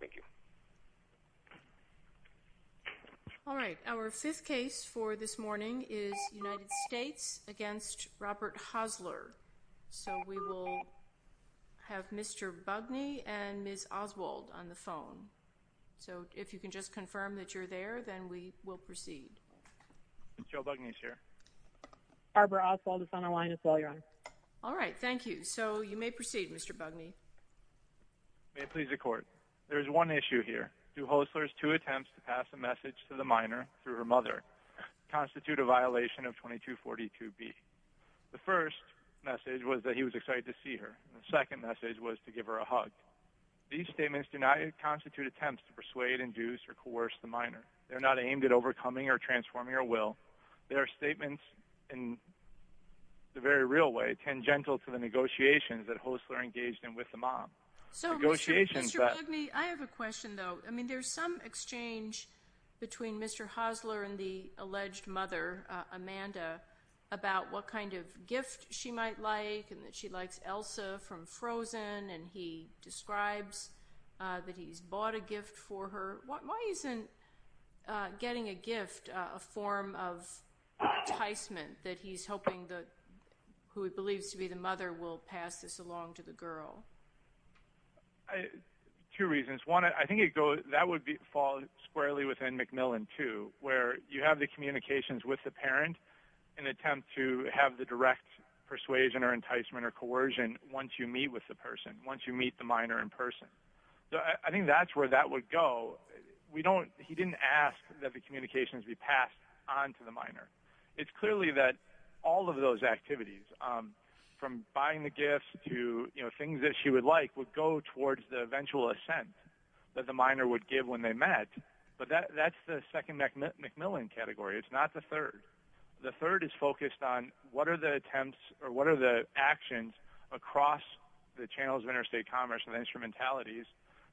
Thank you. All right, our fifth case for this morning is United States against Robert Hosler. So we will have Mr. Bugney and Ms. Oswald on the phone. So if you can just confirm that you're there, then we will proceed. Ms. Oswald is on the line as well, Your Honor. All right, thank you. So you may proceed, Mr. Bugney. Mr. Bugney May it please the Court, there is one issue here. Do Hosler's two attempts to pass a message to the minor through her mother constitute a violation of 2242B? The first message was that he was excited to see her. The second message was to give her a hug. These statements do not constitute attempts to persuade, induce, or coerce the minor. They're not aimed at overcoming or transforming her will. They are statements in the very real way, tangential to the negotiations that Hosler engaged in with the mom. So Mr. Bugney, I have a question though. I mean, there's some exchange between Mr. Hosler and the alleged mother, Amanda, about what kind of gift she might like and that she likes Elsa from Frozen and he describes that he's bought a gift for her. Why isn't getting a form of enticement that he's hoping that, who he believes to be the mother, will pass this along to the girl? Two reasons. One, I think that would fall squarely within MacMillan too, where you have the communications with the parent in an attempt to have the direct persuasion or enticement or coercion once you meet with the person, once you meet the minor in person. I think that's where that would go. We don't, he didn't ask that the communications be passed onto the minor. It's clearly that all of those activities, from buying the gifts to things that she would like, would go towards the eventual assent that the minor would give when they met. But that's the second MacMillan category. It's not the third. The third is focused on what are the attempts or what are the actions across the channels of interstate commerce and instrumentalities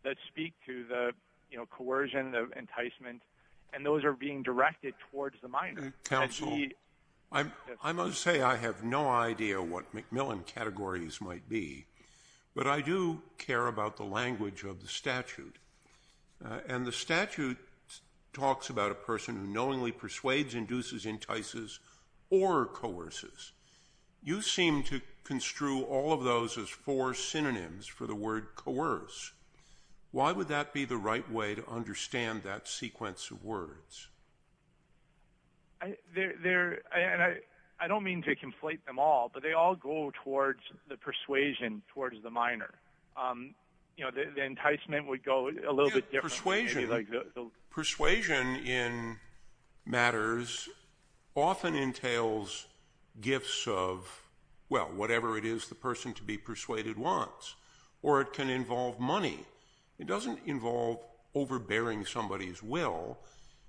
that speak to the, you know, coercion, the enticement, and those are being directed towards the minor. Counsel, I must say I have no idea what MacMillan categories might be, but I do care about the language of the statute. And the statute talks about a person who knowingly persuades, induces, entices, or coerces. You seem to construe all of those as four synonyms for the word coerce. Why would that be the right way to understand that sequence of words? They're, they're, and I don't mean to conflate them all, but they all go towards the persuasion towards the minor. You know, the enticement would go a little bit differently. Persuasion in matters often entails gifts of, well, whatever it is the person to be persuaded wants, or it can involve money. It doesn't involve overbearing somebody's will.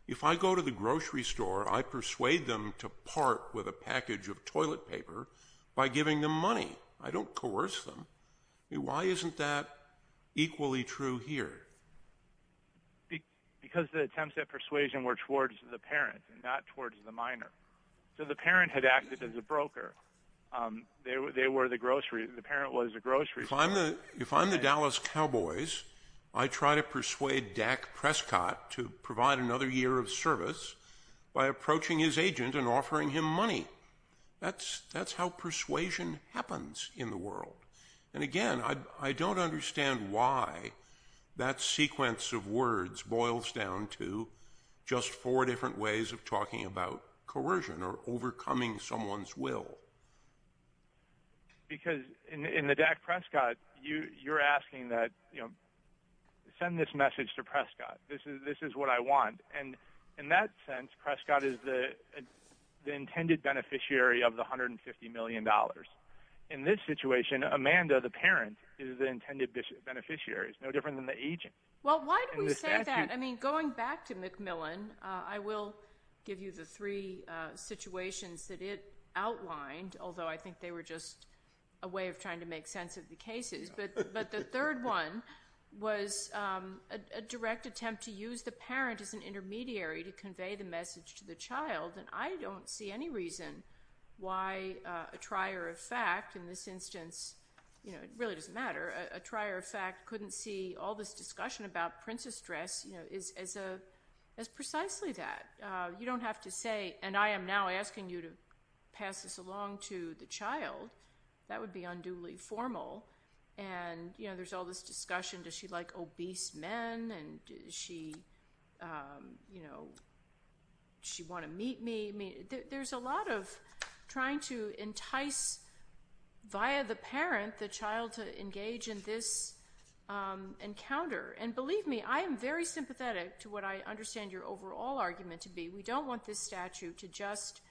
If I go to the grocery store, I persuade them to part with a package of toilet paper by giving them because the attempts at persuasion were towards the parent and not towards the minor. So the parent had acted as a broker. They were, they were the grocery, the parent was the grocery. If I'm the, if I'm the Dallas Cowboys, I try to persuade Dak Prescott to provide another year of service by approaching his agent and offering him money. That's, that's how persuasion happens in the world. And again, I don't understand why that sequence of words boils down to just four different ways of talking about coercion or overcoming someone's will. Because in the Dak Prescott, you, you're asking that, you know, send this message to Prescott. This is, this is what I want. And in that sense, Prescott is the, the intended beneficiary of the $150 million. In this situation, Amanda, the parent is the intended beneficiary. It's no different than the agent. Well, why do we say that? I mean, going back to Macmillan, I will give you the three situations that it outlined, although I think they were just a way of trying to make sense of the cases. But, but the third one was a direct attempt to use the parent as an intermediary to convey the message to the child. And I don't see any reason why a trier of fact in this instance, you know, it really doesn't matter. A trier of fact couldn't see all this discussion about princess dress, you know, is, is a, is precisely that. You don't have to say, and I am now asking you to pass this along to the child. That would be unduly formal. And, you know, there's all this discussion. Does she like obese men? And does she, you know, she want to meet me? I mean, there's a lot of trying to entice via the parent, the child to engage in this encounter. And believe me, I am very sympathetic to what I understand your overall argument to be. We don't want this statute to just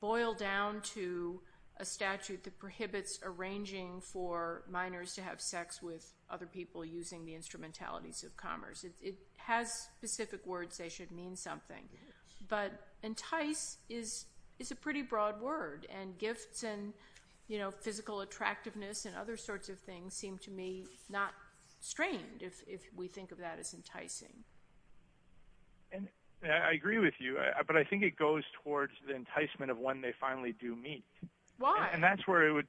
boil down to a statute that prohibits arranging for minors to have sex with other people using the instrumentalities of commerce. It has specific words. They should mean something, but entice is, is a pretty broad word and gifts and, you know, physical attractiveness and other sorts of things seem to me not strained if we think of that as enticing. And I agree with you, but I think it goes towards the enticement of when they finally do meet. Why? And that's where it would,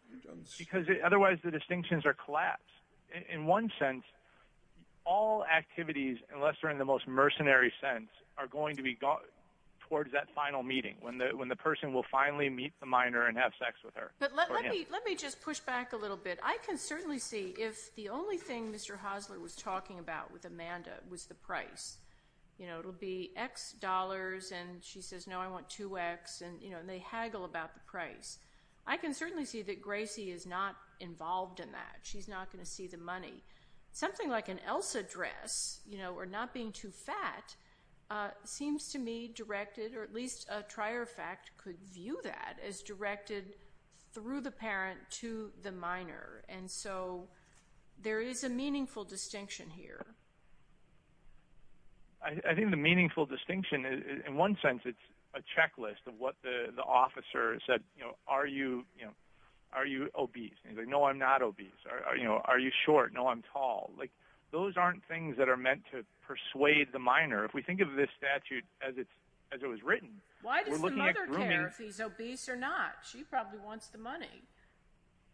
because otherwise the distinctions are collapsed. In one sense, all activities, unless they're in the most mercenary sense, are going to be got towards that final meeting when the, when the person will finally meet the minor and have sex with her. But let me, let me just push back a little bit. I can certainly see if the only thing Mr. Hosler was talking about with Amanda was the price, you know, it'll be X dollars. And she says, no, I want two X and, you know, and they haggle about the price. I can certainly see that Gracie is not involved in that. She's not going to see the money. Something like an Elsa dress, you know, or not being too fat seems to me directed, or at least a trier fact could view that as directed through the parent to the minor. And so there is a meaningful distinction here. I think the meaningful distinction in one sense, it's a checklist of what the, the officer said, you know, are you, you know, are you obese? And he's like, no, I'm not obese. Are, you know, are you short? No, I'm tall. Like those aren't things that are meant to persuade the minor. If we think of this statute as it's, as it was written, why does the mother care if he's obese or not? She probably wants the money.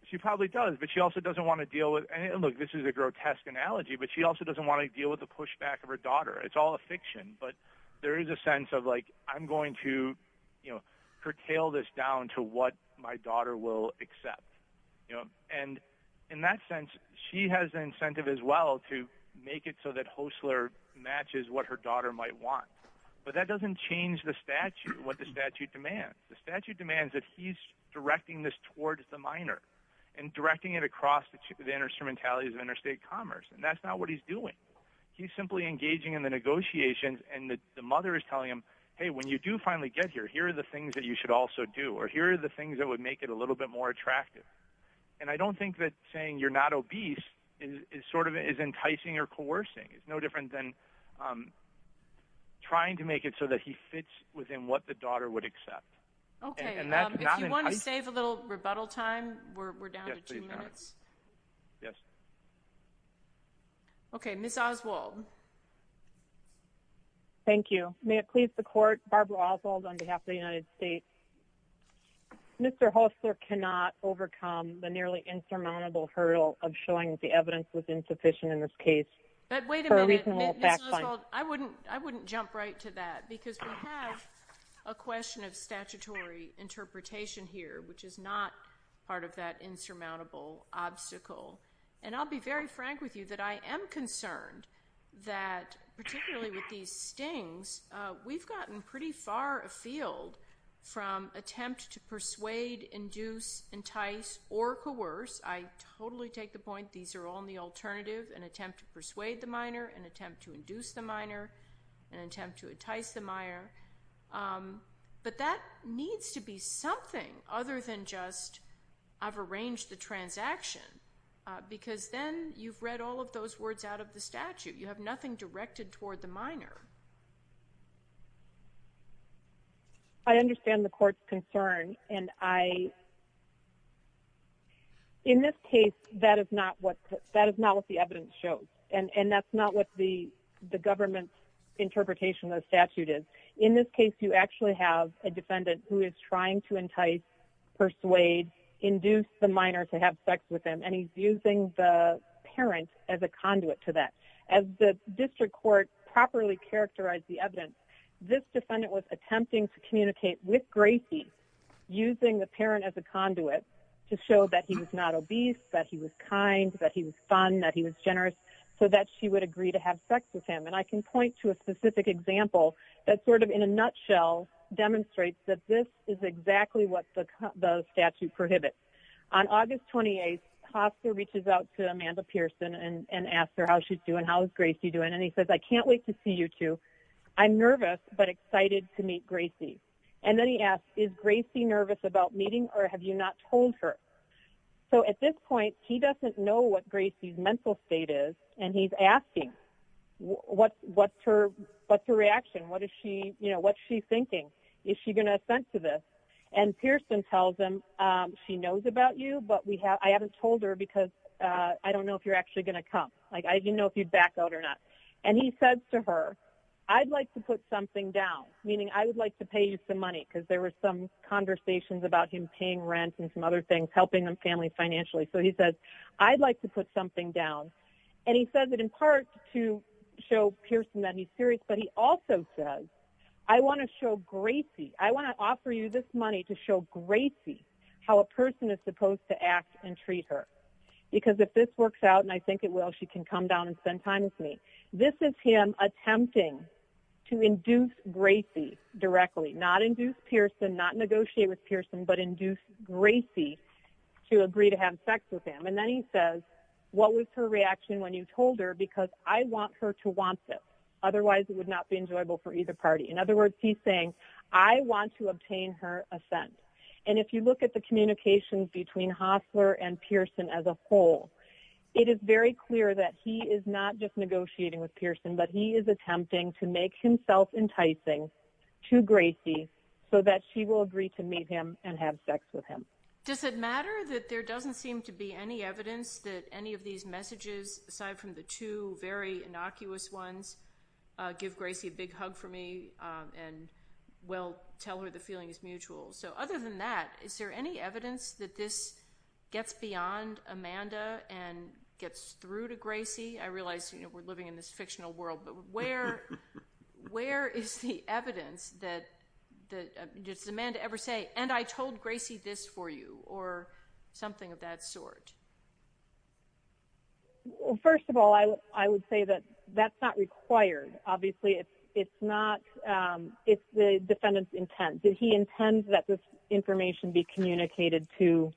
She probably does, but she also doesn't want to deal with any, look, this is a grotesque analogy, but she also doesn't want to deal with the pushback of her daughter. It's all a fiction, but there is a sense of like, I'm going to, you know, curtail this down to what my daughter will accept, you know? And in that sense, she has an incentive as well to make it so that Hostler matches what her daughter might want, but that doesn't change the statute, what the statute demands. The statute demands that he's directing this towards the minor and directing it across the instrumentalities of interstate commerce. And that's not what he's doing. He's simply engaging in the negotiations and the mother is telling him, hey, when you do finally get here, here are the things that you should also do, or here are the things that would make it a little bit more attractive. And I don't think that saying you're not obese is sort of is enticing or coercing. It's no different than trying to make it so that he fits within what the daughter would accept. Okay. If you want to save a little rebuttal time, we're down to two minutes. Yes. Okay. Ms. Oswald. Thank you. May it please the court, Barbara Oswald on behalf of the United States. Mr. Hostler cannot overcome the nearly insurmountable hurdle of showing that the evidence was insufficient in this case. But wait a minute, Ms. Oswald, I wouldn't jump right to that because we have a question of statutory interpretation here, which is not part of that insurmountable obstacle. And I'll be very frank with you that I am concerned that particularly with these stings, we've gotten pretty far afield from attempt to persuade, induce, entice or coerce. I totally take the point. These are all in the alternative and attempt to persuade the mire. But that needs to be something other than just I've arranged the transaction because then you've read all of those words out of the statute. You have nothing directed toward the minor. I understand the court's concern and I, in this case, that is not what the evidence shows. And that's not what the government's interpretation of the statute is. In this case, you actually have a defendant who is trying to entice, persuade, induce the minor to have sex with him. And he's using the parent as a conduit to that. As the district court properly characterized the evidence, this defendant was attempting to communicate with Gracie using the parent as a conduit to show that he was not obese, that he was kind, that he was fun, that he was generous, so that she would agree to have sex with him. And I can point to a specific example that sort of in a nutshell demonstrates that this is exactly what the statute prohibits. On August 28th, Hofstra reaches out to Amanda Pearson and asks her how she's doing, how is Gracie doing? And he says, I can't wait to see you two. I'm nervous, but excited to meet Gracie. And then he asks, is Gracie nervous about meeting or have you not told her? So at this point, he doesn't know what Gracie's mental state is. And he's asking, what's her reaction? What's she thinking? Is she going to assent to this? And Pearson tells him, she knows about you, but I haven't told her because I don't know if you're actually going to come. Like, I didn't know if you'd back out or not. And he says to her, I'd like to put something down, meaning I would like to pay you some money, because there were some conversations about him paying rent and some other things, helping the family financially. So I'd like to put something down. And he says that in part to show Pearson that he's serious, but he also says, I want to show Gracie, I want to offer you this money to show Gracie how a person is supposed to act and treat her. Because if this works out, and I think it will, she can come down and spend time with me. This is him attempting to induce Gracie directly, not induce Pearson, not negotiate with Pearson, but induce Gracie to agree to have sex with him. And then he says, what was her reaction when you told her? Because I want her to want this. Otherwise, it would not be enjoyable for either party. In other words, he's saying, I want to obtain her assent. And if you look at the communications between Hostler and Pearson as a whole, it is very clear that he is not just negotiating with Pearson, but he is attempting to make himself enticing to Gracie so that she will agree to meet him and have sex with him. Does it matter that there doesn't seem to be any evidence that any of these messages, aside from the two very innocuous ones, give Gracie a big hug for me and will tell her the feeling is mutual? So other than that, is there any evidence that this gets beyond Amanda and gets through to Gracie? I realize we're living in this fictional world, but where is the evidence that does Amanda ever say, and I told Gracie this for you, or something of that sort? Well, first of all, I would say that that's not required. Obviously, it's the defendant's intent. He intends that this information be communicated to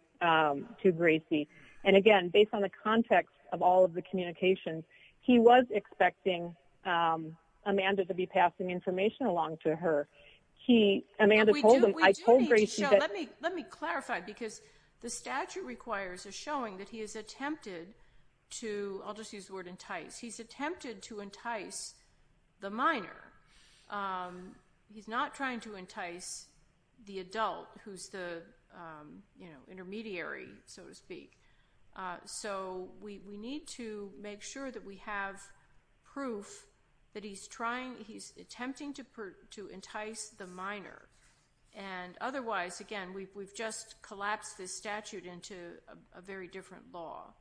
Gracie. And again, based on her, Amanda told him... Let me clarify, because the statute requires a showing that he has attempted to... I'll just use the word entice. He's attempted to entice the minor. He's not trying to entice the adult who's the intermediary, so to speak. So we need to make sure that we have proof that he's attempting to entice the minor. And otherwise, again, we've just collapsed this statute into a very different law.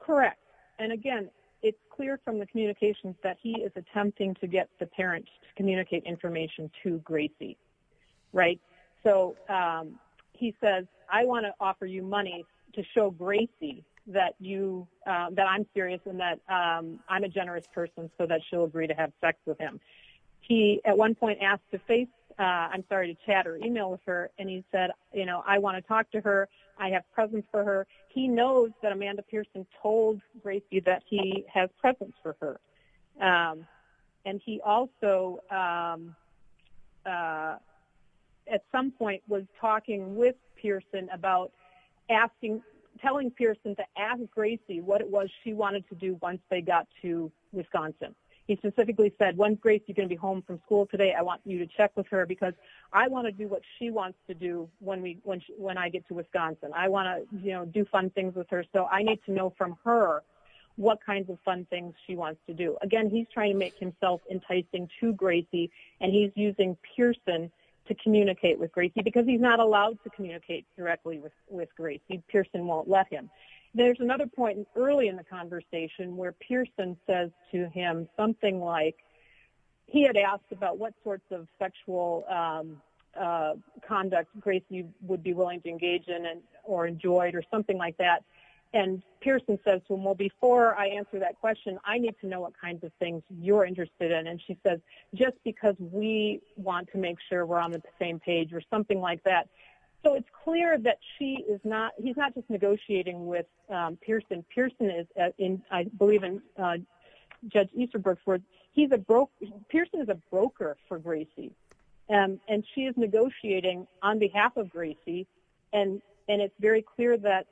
Correct. And again, it's clear from the communications that he is attempting to get the parents to communicate information to Gracie, right? So he says, I want to offer you that I'm serious and that I'm a generous person so that she'll agree to have sex with him. He, at one point, asked to face... I'm sorry, to chat or email with her. And he said, I want to talk to her. I have presence for her. He knows that Amanda Pearson told Gracie that he has presence for her. And he also, at some point, was talking with once they got to Wisconsin. He specifically said, when Gracie's going to be home from school today, I want you to check with her because I want to do what she wants to do when I get to Wisconsin. I want to do fun things with her, so I need to know from her what kinds of fun things she wants to do. Again, he's trying to make himself enticing to Gracie, and he's using Pearson to communicate with Gracie because he's not allowed to communicate directly with Gracie. Pearson won't let him. There's another point early in the conversation where Pearson says to him something like... He had asked about what sorts of sexual conduct Gracie would be willing to engage in or enjoy or something like that. Pearson says to him, well, before I answer that question, I need to know what kinds of things you're interested in. She says, just because we want to make sure we're on the same page or something like that. It's clear that he's not just negotiating with Pearson. Pearson is, I believe in Judge Easterbrook's words, Pearson is a broker for Gracie, and she is negotiating on behalf of Gracie. It's very clear that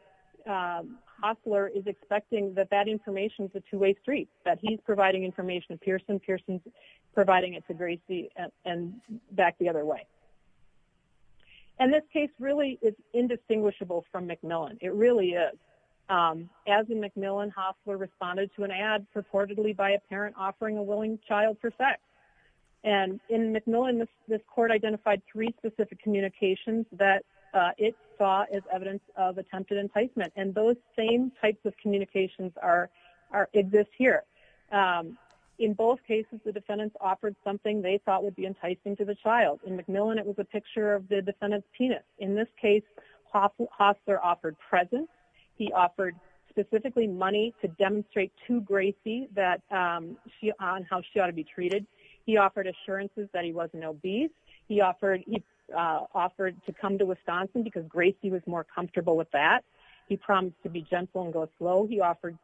Hostler is expecting that that information is a two-way street, that he's providing information to Pearson, Pearson's to Gracie, and back the other way. This case really is indistinguishable from Macmillan. It really is. As in Macmillan, Hostler responded to an ad purportedly by a parent offering a willing child for sex. In Macmillan, this court identified three specific communications that it saw as evidence of attempted enticement. Those same types of communications exist here. In both cases, the defendants offered something they thought would be enticing to the child. In Macmillan, it was a picture of the defendant's penis. In this case, Hostler offered presents. He offered specifically money to demonstrate to Gracie on how she ought to be treated. He offered assurances that he wasn't obese. He offered to come to Wisconsin because Gracie was more comfortable with that. He promised to be gentle and go slow. He offered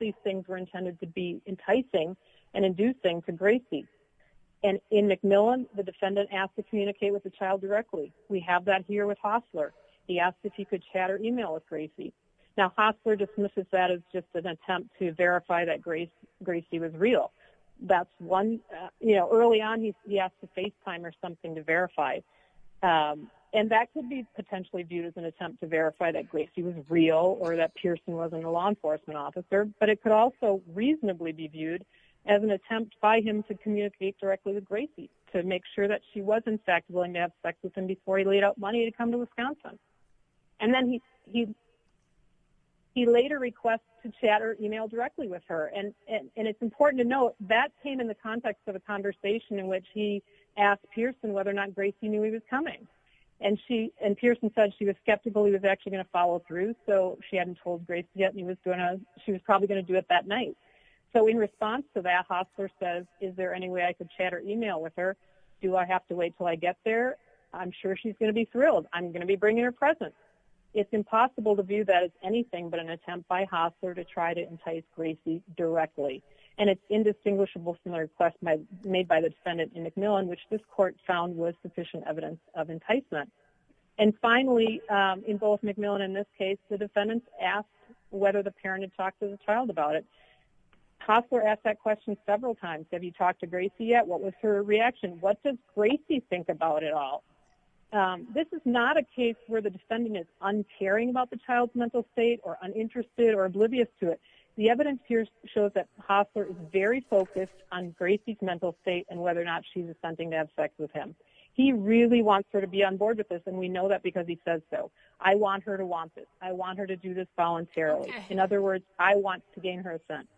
these things were intended to be enticing and inducing to Gracie. In Macmillan, the defendant asked to communicate with the child directly. We have that here with Hostler. He asked if he could chat or email with Gracie. Now, Hostler dismisses that as just an attempt to verify that Gracie was real. Early on, he asked to FaceTime or something to verify. That could be potentially viewed as an attempt to verify that Gracie was real or that Pearson wasn't a law enforcement officer. It could also reasonably be viewed as an attempt by him to communicate directly with Gracie to make sure that she was in fact willing to have sex with him before he laid out money to come to Wisconsin. He later requested to chat or email directly with her. It's important to note that came in the context of a conversation in which he asked Pearson whether or not Gracie knew he was coming. Pearson said she was skeptical he was actually going to follow through. She hadn't told Gracie yet. She was probably going to do it that night. In response to that, Hostler says, is there any way I could chat or email with her? Do I have to wait until I get there? I'm sure she's going to be thrilled. I'm going to be bringing her presents. It's impossible to view that as anything but an attempt by Hostler to try to entice Gracie directly. It's indistinguishable from the request made by the defendant in Macmillan, which this case the defendant asked whether the parent had talked to the child about it. Hostler asked that question several times. Have you talked to Gracie yet? What was her reaction? What does Gracie think about it all? This is not a case where the defendant is uncaring about the child's mental state or uninterested or oblivious to it. The evidence here shows that Hostler is very focused on Gracie's mental state and whether or not she's intending to have sex with him. He really wants to be on board with this and we know that because he says so. I want her to want this. I want her to do this voluntarily. In other words, I want to gain her assent.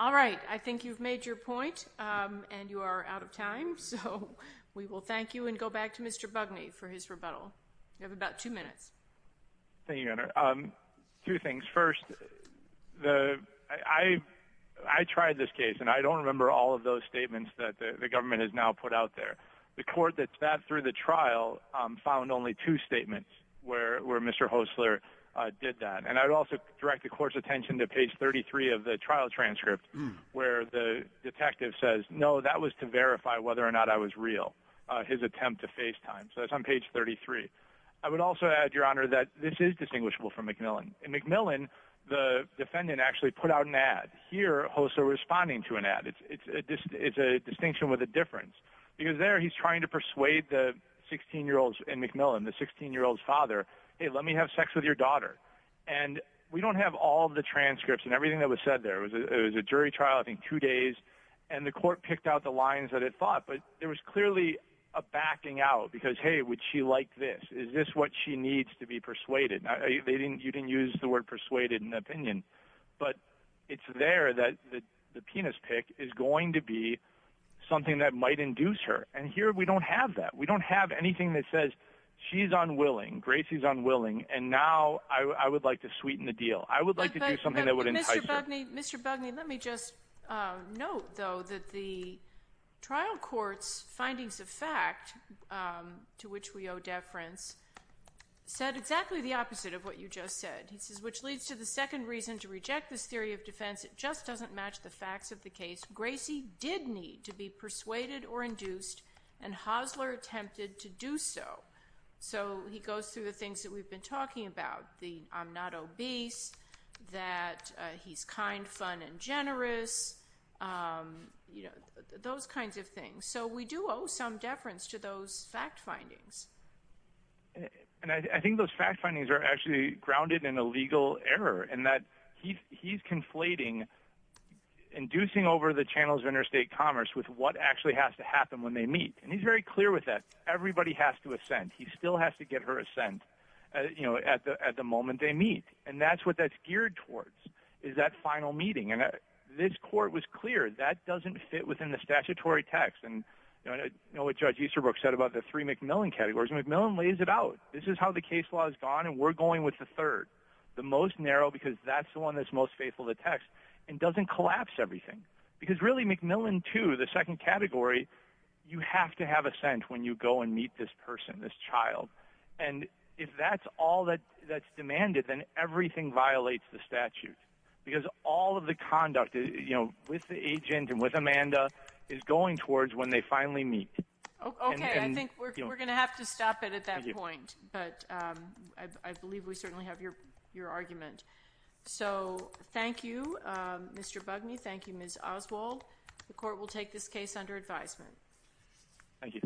All right. I think you've made your point and you are out of time. We will thank you and go back to Mr. Bugney for his rebuttal. You have about two minutes. Thank you, Your Honor. Two things. First, I tried this case and I don't remember all of those statements that the government has now found only two statements where Mr. Hostler did that. I would also direct the court's attention to page 33 of the trial transcript where the detective says, no, that was to verify whether or not I was real, his attempt to FaceTime. It's on page 33. I would also add, Your Honor, that this is distinguishable from McMillan. In McMillan, the defendant actually put out an ad. Here, Hostler is responding to an ad. It's a distinction with a difference because there he's trying to persuade the 16-year-old in McMillan, the 16-year-old's father, hey, let me have sex with your daughter. We don't have all of the transcripts and everything that was said there. It was a jury trial, I think, two days. The court picked out the lines that it fought. There was clearly a backing out because, hey, would she like this? Is this what she needs to be persuaded? You didn't use the word persuaded in the opinion. But it's there that the penis pick is going to be something that might induce her. Here, we don't have that. We don't have anything that says she's unwilling, Gracie's unwilling, and now I would like to sweeten the deal. I would like to do something that would entice her. Mr. Bugney, let me just note, though, that the trial court's findings of fact, to which we owe deference, said exactly the opposite of what you just said, which leads to the second reason to reject this theory of defense. It just doesn't match the facts of the case. Gracie did need to be persuaded or induced, and Hosler attempted to do so. So he goes through the things that we've been talking about, the I'm not obese, that he's kind, fun, and generous, those kinds of things. So we do owe some deference to those fact findings. And I think those fact findings are actually grounded in a legal error in that he's conflating, inducing over the channels of interstate commerce with what actually has to happen when they meet. And he's very clear with that. Everybody has to assent. He still has to get her assent at the moment they meet. And that's what that's geared towards, is that final meeting. And this court was clear that doesn't fit within the statutory text. And I know what Judge Easterbrook said about the three MacMillan categories. MacMillan lays it out. This is how the case law is gone. And we're going with the third, the most narrow, because that's the one that's most faithful to text and doesn't collapse everything. Because really, MacMillan 2, the second category, you have to have assent when you go and meet this person, this child. And if that's all that's demanded, then everything violates the statute, because all of the conduct with the agent and Amanda is going towards when they finally meet. Okay. I think we're going to have to stop it at that point. But I believe we certainly have your argument. So thank you, Mr. Bugney. Thank you, Ms. Oswald. The court will take this case under advisement. Thank you.